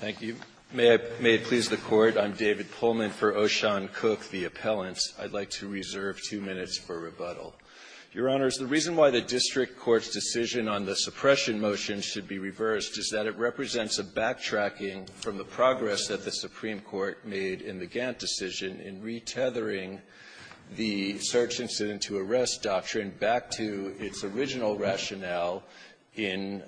Thank you. May it please the Court, I'm David Pullman for Oshan Cook, the appellant. I'd like to reserve two minutes for rebuttal. Your Honors, the reason why the district court's decision on the suppression motion should be reversed is that it represents a backtracking from the progress that the Supreme Court made in the Gantt decision in retethering the search incident to arrest doctrine back to its original rationale in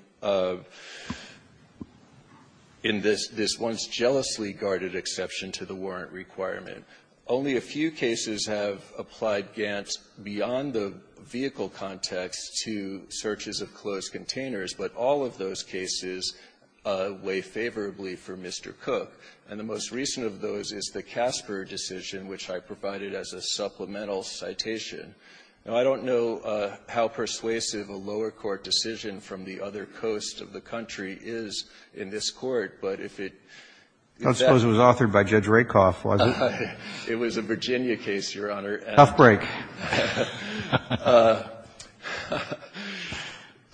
this once jealously guarded exception to the warrant requirement. Only a few cases have applied Gantt beyond the vehicle context to searches of closed containers, but all of those cases weigh favorably for Mr. Cook. And the most recent of those is the Casper decision, which I provided as a supplemental citation. Now, I don't know how persuasive a lower court decision from the other coast of the country is in this Court, but if it exactly was authored by Judge Rakoff, was it? It was a Virginia case, Your Honor. Tough break.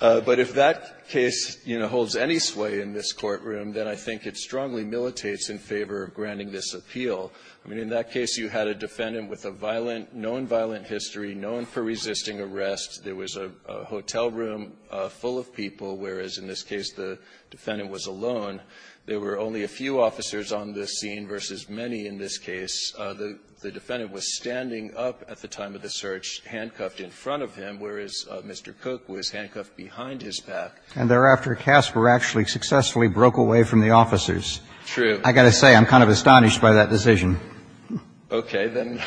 But if that case, you know, holds any sway in this courtroom, then I think it strongly militates in favor of granting this appeal. I mean, in that case, you had a defendant with a violent, known violent history, known for resisting arrest. There was a hotel room full of people, whereas in this case the defendant was alone. There were only a few officers on this scene versus many in this case. The defendant was standing up at the time of the search, handcuffed in front of him, whereas Mr. Cook was handcuffed behind his back. And thereafter, Casper actually successfully broke away from the officers. True. I've got to say, I'm kind of astonished by that decision. Okay. Then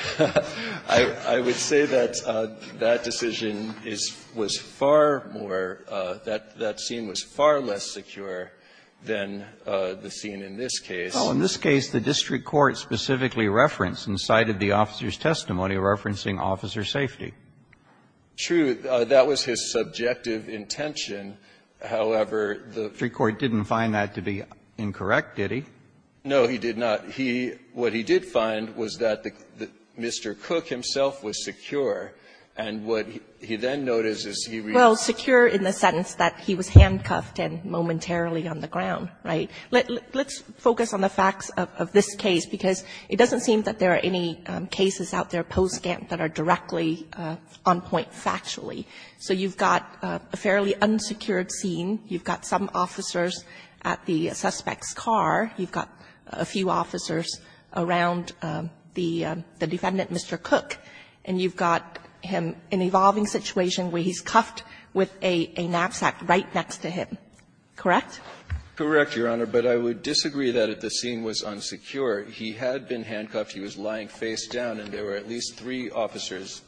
I would say that that decision is was far more, that scene was far less secure than the scene in this case. Well, in this case, the district court specifically referenced and cited the officer's testimony referencing officer safety. True. That was his subjective intention. However, the district court didn't find that to be incorrect, did he? No, he did not. He what he did find was that Mr. Cook himself was secure. And what he then noticed is he really was secure in the sense that he was handcuffed and momentarily on the ground, right? Let's focus on the facts of this case, because it doesn't seem that there are any cases out there post-Gantt that are directly on point factually. So you've got a fairly unsecured scene. You've got some officers at the suspect's car. You've got a few officers around the defendant, Mr. Cook, and you've got him in an evolving situation where he's cuffed with a knapsack right next to him, correct? Correct, Your Honor, but I would disagree that if the scene was unsecure, he had been handcuffed, he was lying face down, and there were at least three officers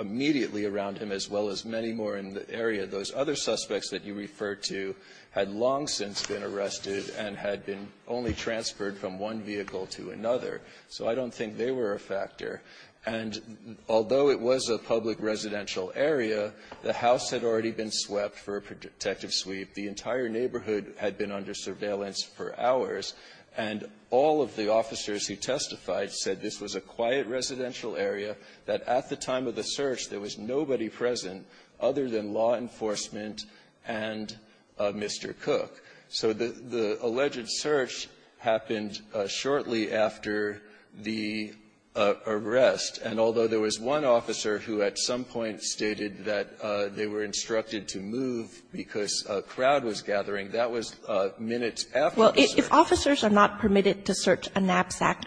immediately around him, as well as many more in the area. Those other suspects that you refer to had long since been arrested and had been only transferred from one vehicle to another. So I don't think they were a factor. And although it was a public residential area, the house had already been swept for a protective sweep. The entire neighborhood had been under surveillance for hours, and all of the officers who testified said this was a quiet residential area, that at the time of the search, there was nobody present other than law enforcement and Mr. Cook. So the alleged search happened shortly after the arrest, and although there was one officer who at some point stated that they were instructed to move because a crowd was gathering, that was minutes after the search. Well, if officers are not permitted to search a knapsack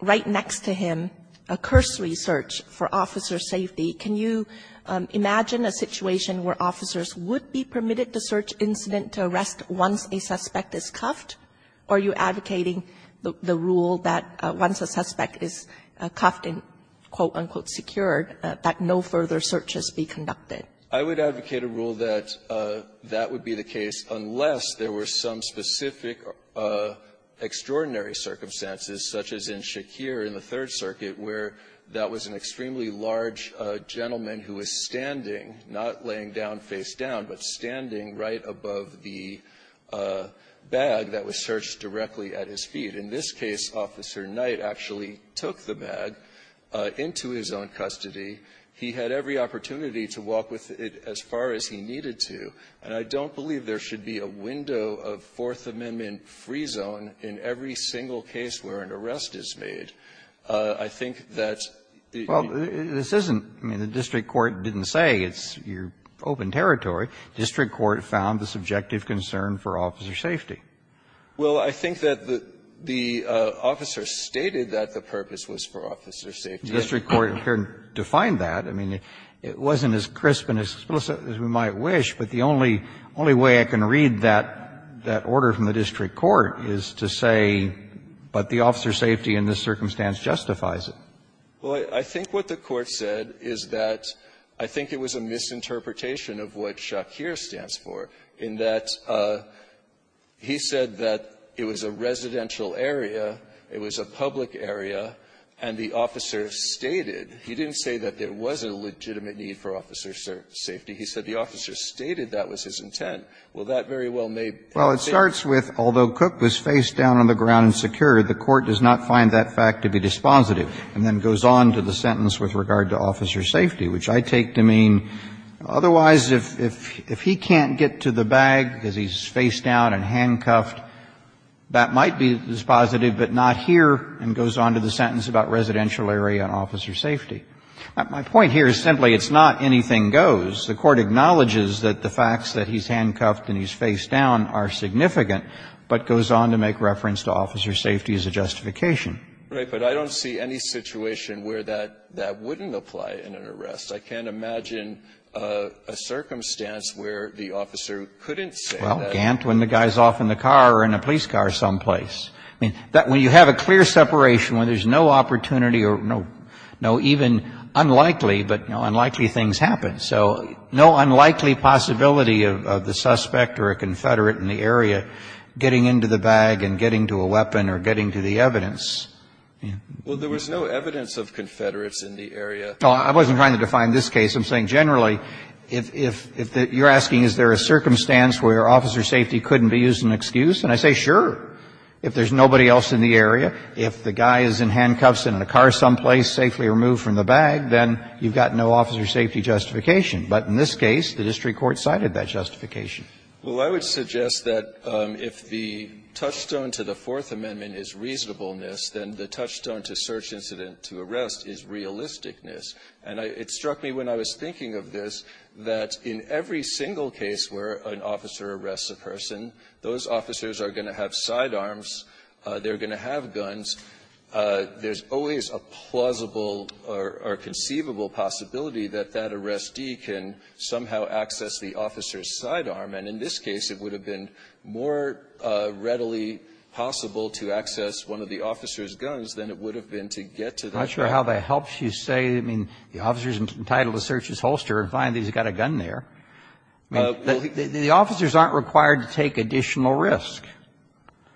right next to him, a cursory search for officer safety, can you imagine a situation where officers would be permitted to search incident to arrest once a suspect is cuffed? Are you advocating the rule that once a suspect is cuffed and, quote, unquote, secured, that no further searches be conducted? I would advocate a rule that that would be the case unless there were some specific extraordinary circumstances, such as in Shakir in the Third Circuit, where that was an extremely large gentleman who was standing, not laying down face down, but standing right above the bag that was searched directly at his feet. In this case, Officer Knight actually took the bag into his own custody. He had every opportunity to walk with it as far as he needed to. And I don't believe there should be a window of Fourth Amendment free zone in every single case where an arrest is made. I think that the ---- Well, this isn't the district court didn't say. It's your open territory. District court found the subjective concern for officer safety. Well, I think that the officer stated that the purpose was for officer safety. The district court didn't define that. I mean, it wasn't as crisp and as explicit as we might wish, but the only way I can read that order from the district court is to say, but the officer's safety in this circumstance justifies it. Well, I think what the Court said is that I think it was a misinterpretation of what Shakir stands for, in that he said that it was a residential area, it was a public area, and the officer stated. He didn't say that there was a legitimate need for officer safety. He said the officer stated that was his intent. Well, that very well may be. Well, it starts with, although Cook was facedown on the ground and secured, the Court does not find that fact to be dispositive, and then goes on to the sentence with regard to officer safety, which I take to mean, otherwise, if he can't get to the bag because he's facedown and handcuffed, that might be dispositive, but not here and goes on to the sentence about residential area and officer safety. My point here is simply it's not anything goes. The Court acknowledges that the facts that he's handcuffed and he's facedown are significant, but goes on to make reference to officer safety as a justification. Right, but I don't see any situation where that wouldn't apply in an arrest. I can't imagine a circumstance where the officer couldn't say that. Well, Gant, when the guy's off in the car or in a police car someplace. I mean, when you have a clear separation, when there's no opportunity or no even unlikely, but unlikely things happen. So no unlikely possibility of the suspect or a confederate in the area getting into the bag and getting to a weapon or getting to the evidence. Well, there was no evidence of confederates in the area. No, I wasn't trying to define this case. I'm saying generally, if you're asking is there a circumstance where officer safety couldn't be used as an excuse, and I say sure. If there's nobody else in the area, if the guy is in handcuffs and in a car someplace, safely removed from the bag, then you've got no officer safety justification. But in this case, the district court cited that justification. Well, I would suggest that if the touchstone to the Fourth Amendment is reasonableness, then the touchstone to search incident to arrest is realisticness. And it struck me when I was thinking of this that in every single case where an officer arrests a person, those officers are going to have sidearms, they're going to have guns. There's always a plausible or conceivable possibility that that arrestee can somehow access the officer's sidearm, and in this case, it would have been more readily possible to access one of the officer's guns than it would have been to get to the bag. I'm not sure how that helps you say, I mean, the officer is entitled to search his holster and find that he's got a gun there. I mean, the officers aren't required to take additional risk.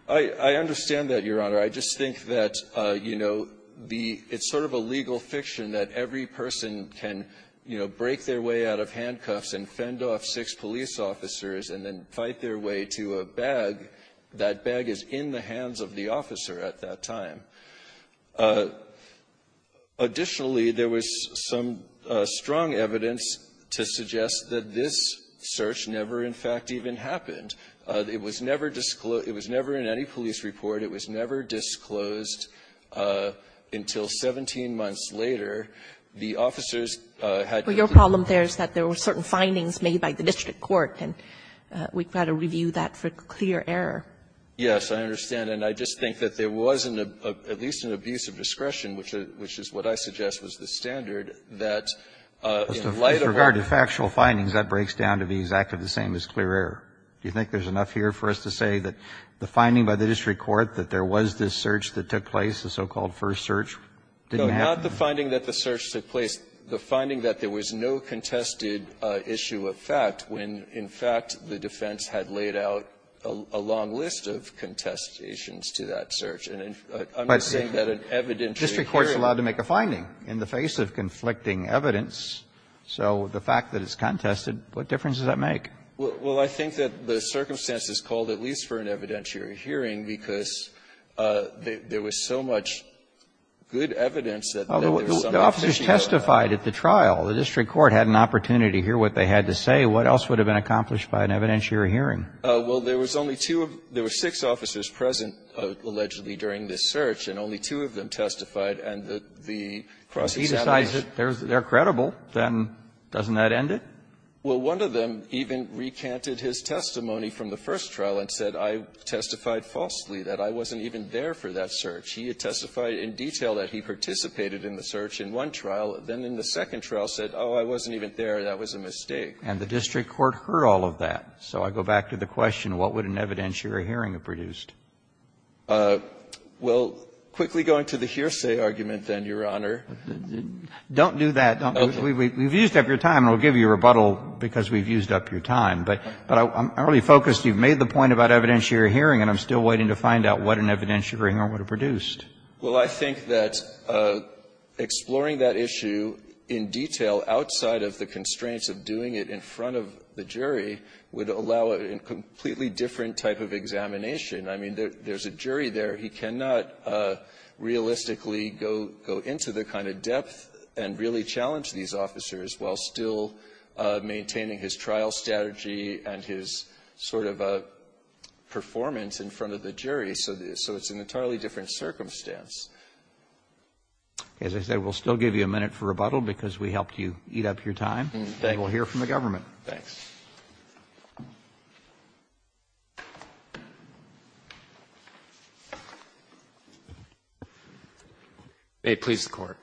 I understand that, Your Honor. I just think that, you know, the — it's sort of a legal fiction that every person can, you know, break their way out of handcuffs and fend off six police officers and then fight their way to a bag. That bag is in the hands of the officer at that time. Additionally, there was some strong evidence to suggest that this search never, in fact, even happened. It was never disclosed — it was never in any police report. It was never disclosed until 17 months later. The officers had to be — Kagan. Well, your problem there is that there were certain findings made by the district court, and we've got to review that for clear error. Yes, I understand. And I just think that there was at least an abuse of discretion, which is what I suggest was the standard, that in light of our — But with regard to factual findings, that breaks down to be exactly the same as clear error. Do you think there's enough here for us to say that the finding by the district court that there was this search that took place, the so-called first search, didn't happen? No, not the finding that the search took place. The finding that there was no contested issue of fact, when, in fact, the defense had laid out a long list of contestations to that search. And I'm just saying that an evidentiary hearing — But district court is allowed to make a finding in the face of conflicting evidence. So the fact that it's contested, what difference does that make? Well, I think that the circumstances called at least for an evidentiary hearing because there was so much good evidence that there was some — Well, the officers testified at the trial. The district court had an opportunity to hear what they had to say. What else would have been accomplished by an evidentiary hearing? Well, there was only two of — there were six officers present, allegedly, during this search, and only two of them testified, and the cross-examination — If he decides that they're credible, then doesn't that end it? Well, one of them even recanted his testimony from the first trial and said, I testified falsely, that I wasn't even there for that search. He had testified in detail that he participated in the search in one trial. Then in the second trial said, oh, I wasn't even there, that was a mistake. And the district court heard all of that. So I go back to the question, what would an evidentiary hearing have produced? Well, quickly going to the hearsay argument, then, Your Honor. Don't do that. We've used up your time, and we'll give you a rebuttal because we've used up your time. But I'm already focused. You've made the point about evidentiary hearing, and I'm still waiting to find out what an evidentiary hearing would have produced. Well, I think that exploring that issue in detail outside of the constraints of doing it in front of the jury would allow a completely different type of examination. I mean, there's a jury there. He cannot realistically go into the kind of depth and really challenge these officers while still maintaining his trial strategy and his sort of performance in front of the jury. So it's an entirely different circumstance. As I said, we'll still give you a minute for rebuttal because we helped you eat up your time. And we'll hear from the government. Thanks. May it please the Court.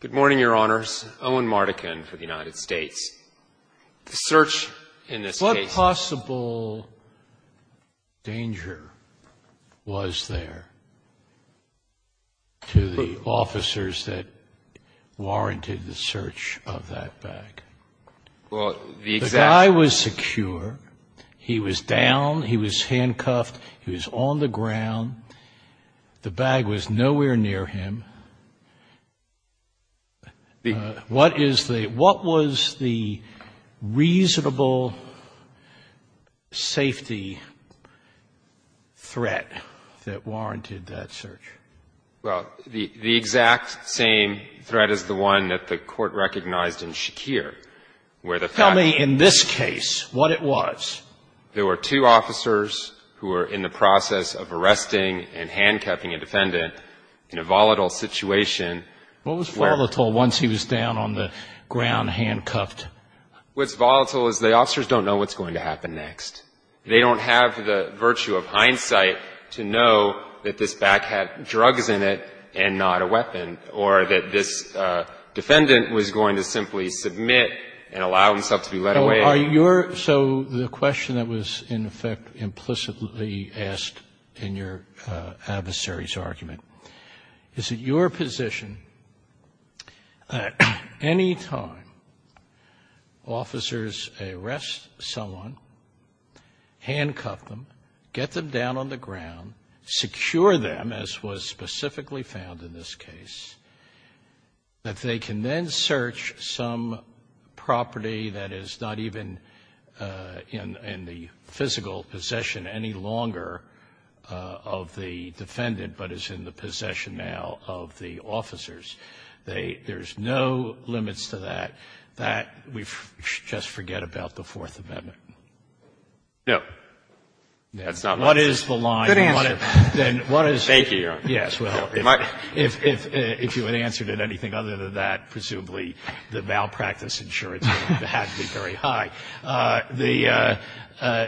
Good morning, Your Honors. Owen Mardikin for the United States. The search in this case was there. To the officers that warranted the search of that bag. The guy was secure. He was down. He was handcuffed. He was on the ground. The bag was nowhere near him. What is the, what was the reasonable safety threat that warranted that search? Well, the exact same threat as the one that the Court recognized in Shakir. Tell me in this case what it was. There were two officers who were in the process of arresting and handcuffing a defendant in a volatile situation. What was volatile once he was down on the ground handcuffed? What's volatile is the officers don't know what's going to happen next. They don't have the virtue of hindsight to know that this bag had drugs in it and not a weapon or that this defendant was going to simply submit and allow himself to be let away. Are your, so the question that was in effect implicitly asked in your adversary's argument, is it your position at any time officers arrest someone, handcuff them, get them down on the ground, secure them, as was specifically found in this case, that they can then search some property that is not even in the physical possession any longer of the defendant, but is in the possession now of the officers? There's no limits to that. That we just forget about the Fourth Amendment. No. That's not my position. Good answer. Thank you, Your Honor. Yes, well, if you had answered it anything other than that, presumably the malpractice insurance would have to be very high. The,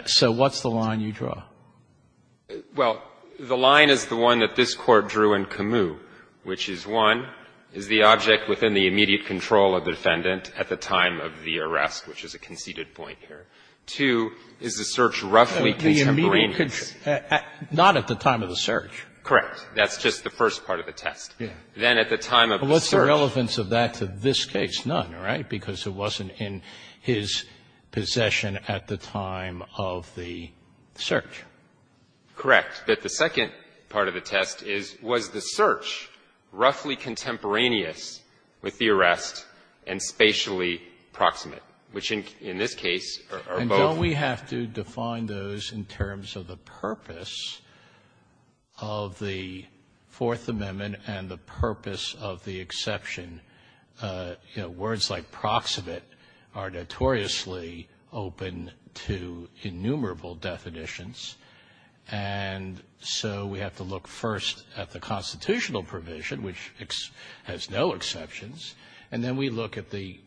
so what's the line you draw? Well, the line is the one that this Court drew in Camus, which is, one, is the object within the immediate control of the defendant at the time of the arrest, which is a conceded point here. Two, is the search roughly contemporaneous. Not at the time of the search. Correct. That's just the first part of the test. Then at the time of the search. But what's the relevance of that to this case? None, right, because it wasn't in his possession at the time of the search. Correct. But the second part of the test is, was the search roughly contemporaneous with the arrest and spatially proximate, which in this case are both. Well, we have to define those in terms of the purpose of the Fourth Amendment and the purpose of the exception. You know, words like proximate are notoriously open to innumerable definitions. And so we have to look first at the constitutional provision, which has no exceptions. And then we look at the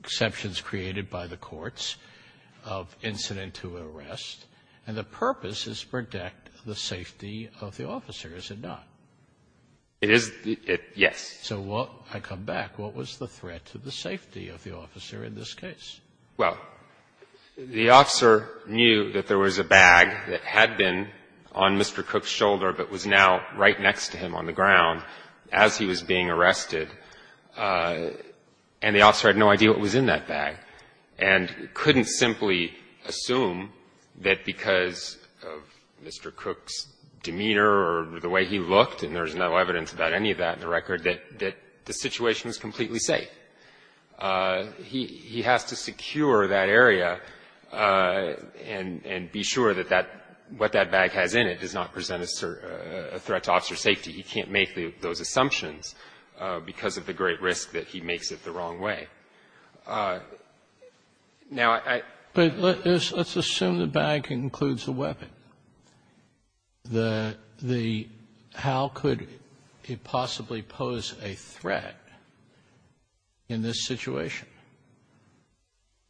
exceptions created by the courts of incident to arrest. And the purpose is to protect the safety of the officer, is it not? It is. Yes. So what was the threat to the safety of the officer in this case? Well, the officer knew that there was a bag that had been on Mr. Cook's shoulder, but was now right next to him on the ground as he was being arrested. And the officer had no idea what was in that bag and couldn't simply assume that because of Mr. Cook's demeanor or the way he looked, and there's no evidence about any of that in the record, that the situation was completely safe. He has to secure that area and be sure that what that bag has in it does not present a threat to officer safety. He can't make those assumptions because of the great risk that he makes it the wrong way. Now, I — But let's assume the bag includes a weapon. The — how could it possibly pose a threat in this situation?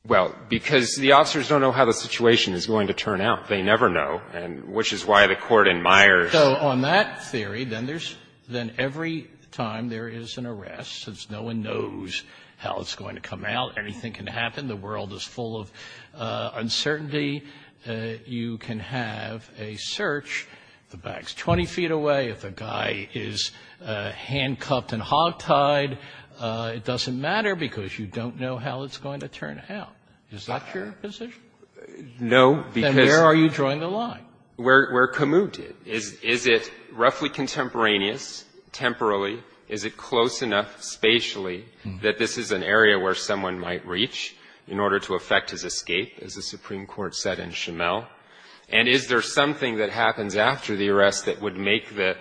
Well, because the officers don't know how the situation is going to turn out. They never know, and which is why the Court admires — So on that theory, then there's — then every time there is an arrest, since no one knows how it's going to come out, anything can happen, the world is full of uncertainty, you can have a search, the bag's 20 feet away, if the guy is handcuffed and hog-tied, it doesn't matter because you don't know how it's going to turn out. Is that your position? No, because — Where are you drawing the line? Where Camus did. Is it roughly contemporaneous, temporally? Is it close enough spatially that this is an area where someone might reach in order to effect his escape, as the Supreme Court said in Chamel? And is there something that happens after the arrest that would make the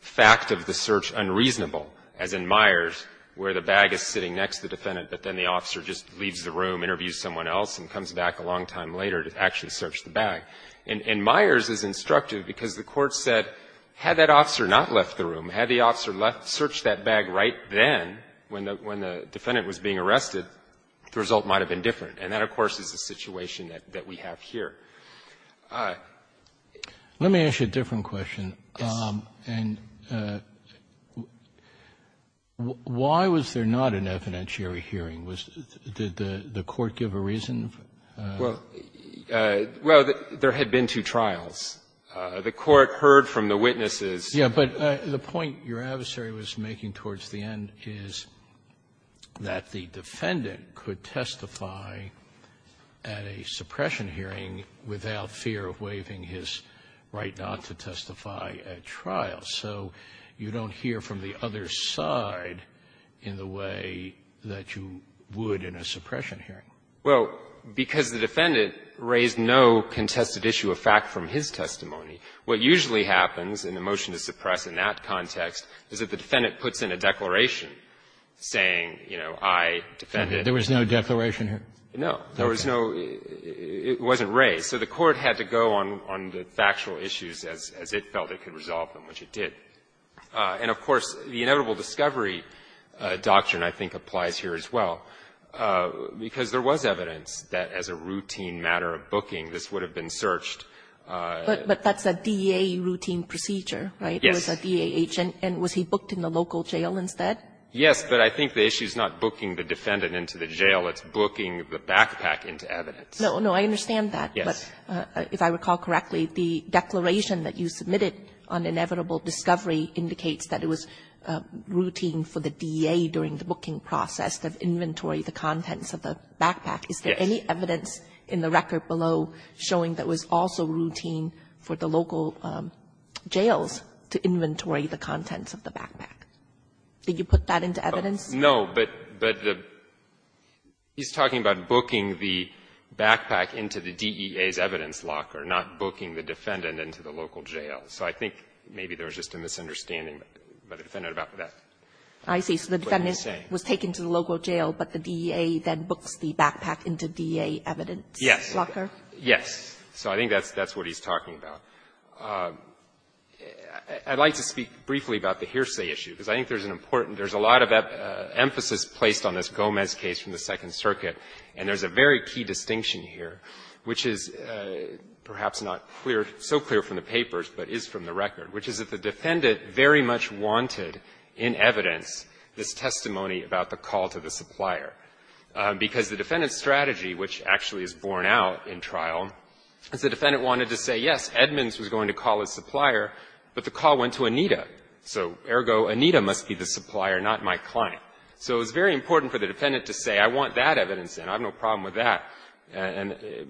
fact of the search unreasonable, as in Myers, where the bag is sitting next to the defendant, but then the officer just leaves the room, interviews someone else, and comes back a long time later to actually search the bag? And Myers is instructive because the Court said, had that officer not left the room, had the officer left — searched that bag right then when the defendant was being arrested, the result might have been different, and that, of course, is the situation that we have here. All right. Let me ask you a different question. And why was there not an evidentiary hearing? Was — did the Court give a reason? Well, there had been two trials. The Court heard from the witnesses. Yes, but the point your adversary was making towards the end is that the defendant could testify at a suppression hearing without fear of waiving his right not to testify at trial. So you don't hear from the other side in the way that you would in a suppression hearing. Well, because the defendant raised no contested issue of fact from his testimony, what usually happens in the motion to suppress in that context is that the defendant puts in a declaration saying, you know, I defended. There was no declaration here? No. There was no — it wasn't raised. So the Court had to go on the factual issues as it felt it could resolve them, which it did. And, of course, the inevitable discovery doctrine, I think, applies here as well, because there was evidence that as a routine matter of booking, this would have been searched. But that's a DEA routine procedure, right? Yes. It was a DEA agent, and was he booked in the local jail instead? Yes, but I think the issue is not booking the defendant into the jail. It's booking the backpack into evidence. No, no, I understand that, but if I recall correctly, the declaration that you submitted on inevitable discovery indicates that it was routine for the DEA during the booking process to inventory the contents of the backpack. Is there any evidence in the record below showing that was also routine for the local jails to inventory the contents of the backpack? Did you put that into evidence? No, but the — he's talking about booking the backpack into the DEA's evidence locker, not booking the defendant into the local jail. So I think maybe there was just a misunderstanding by the defendant about that. I see. So the defendant was taken to the local jail, but the DEA then books the backpack into DEA evidence locker? Yes. Yes. So I think that's what he's talking about. I'd like to speak briefly about the hearsay issue, because I think there's an important — there's a lot of emphasis placed on this Gomez case from the Second Circuit, and there's a very key distinction here, which is perhaps not clear, so clear from the papers, but is from the record, which is that the defendant very much wanted in evidence this testimony about the call to the supplier, because the defendant's strategy, which actually is borne out in trial, is the defendant wanted to say, yes, Edmonds was going to call his supplier, but the call went to Anita. So, ergo, Anita must be the supplier, not my client. So it was very important for the defendant to say, I want that evidence, and I have no problem with that,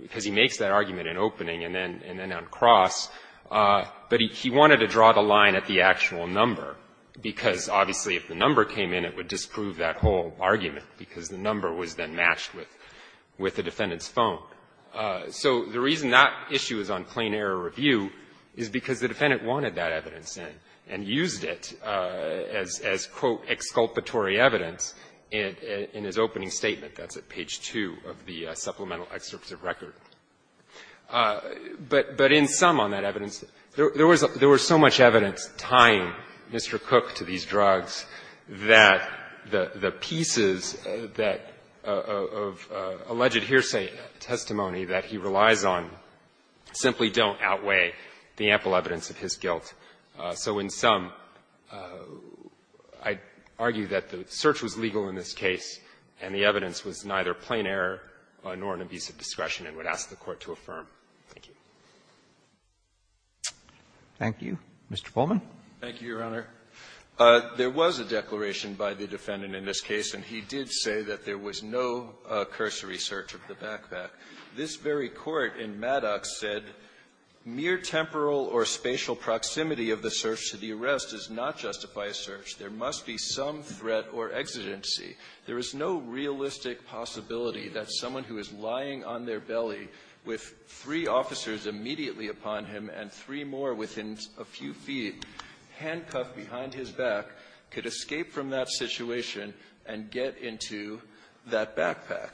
because he makes that argument in opening, and then on cross, but he wanted to draw the line at the actual number, because obviously, if the number came in, it would disprove that whole argument, because the number was then matched with the defendant's phone. So the reason that issue is on plain error review is because the defendant wanted that evidence, and used it as, quote, exculpatory evidence in his opening statement. That's at page 2 of the supplemental excerpt of record. But in sum on that evidence, there was so much evidence tying Mr. Cook to these drugs that the pieces that of alleged hearsay testimony that he relies on simply don't outweigh the ample evidence of his guilt. So in sum, I argue that the search was legal in this case, and the evidence was neither plain error nor an abuse of discretion, and would ask the Court to affirm. Thank you. Roberts, thank you. Mr. Pullman. Pullman, thank you, Your Honor. There was a declaration by the defendant in this case, and he did say that there was no cursory search of the backpack. This very court in Maddox said, mere temporal or spatial proximity of the search to the arrest does not justify a search. There must be some threat or exigency. There is no realistic possibility that someone who is lying on their belly with three officers immediately upon him and three more within a few feet, handcuffed behind his back, could escape from that situation and get into that backpack.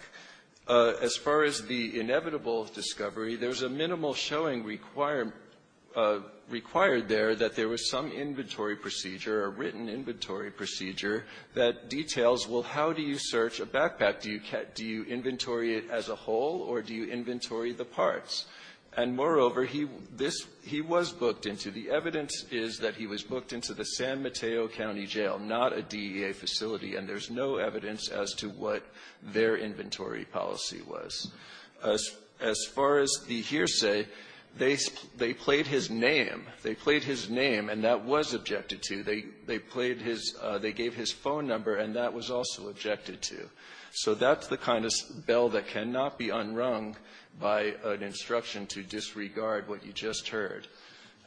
As far as the inevitable discovery, there's a minimal showing required there that there was some inventory procedure, a written inventory procedure, that details well, how do you search a backpack? Do you inventory it as a whole, or do you inventory the parts? And moreover, he was booked into. The evidence is that he was booked into the San Mateo County Jail, not a DEA facility, and there's no evidence as to what their inventory policy was. As far as the hearsay, they played his name. They played his name, and that was objected to. They played his -- they gave his phone number, and that was also objected to. So that's the kind of bell that cannot be unrung by an instruction to disregard what you just heard.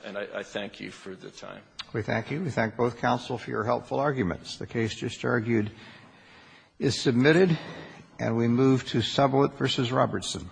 And I thank you for the time. Roberts, we thank you. We thank both counsel for your helpful arguments. The case just argued is submitted, and we move to Sublet v. Robertson.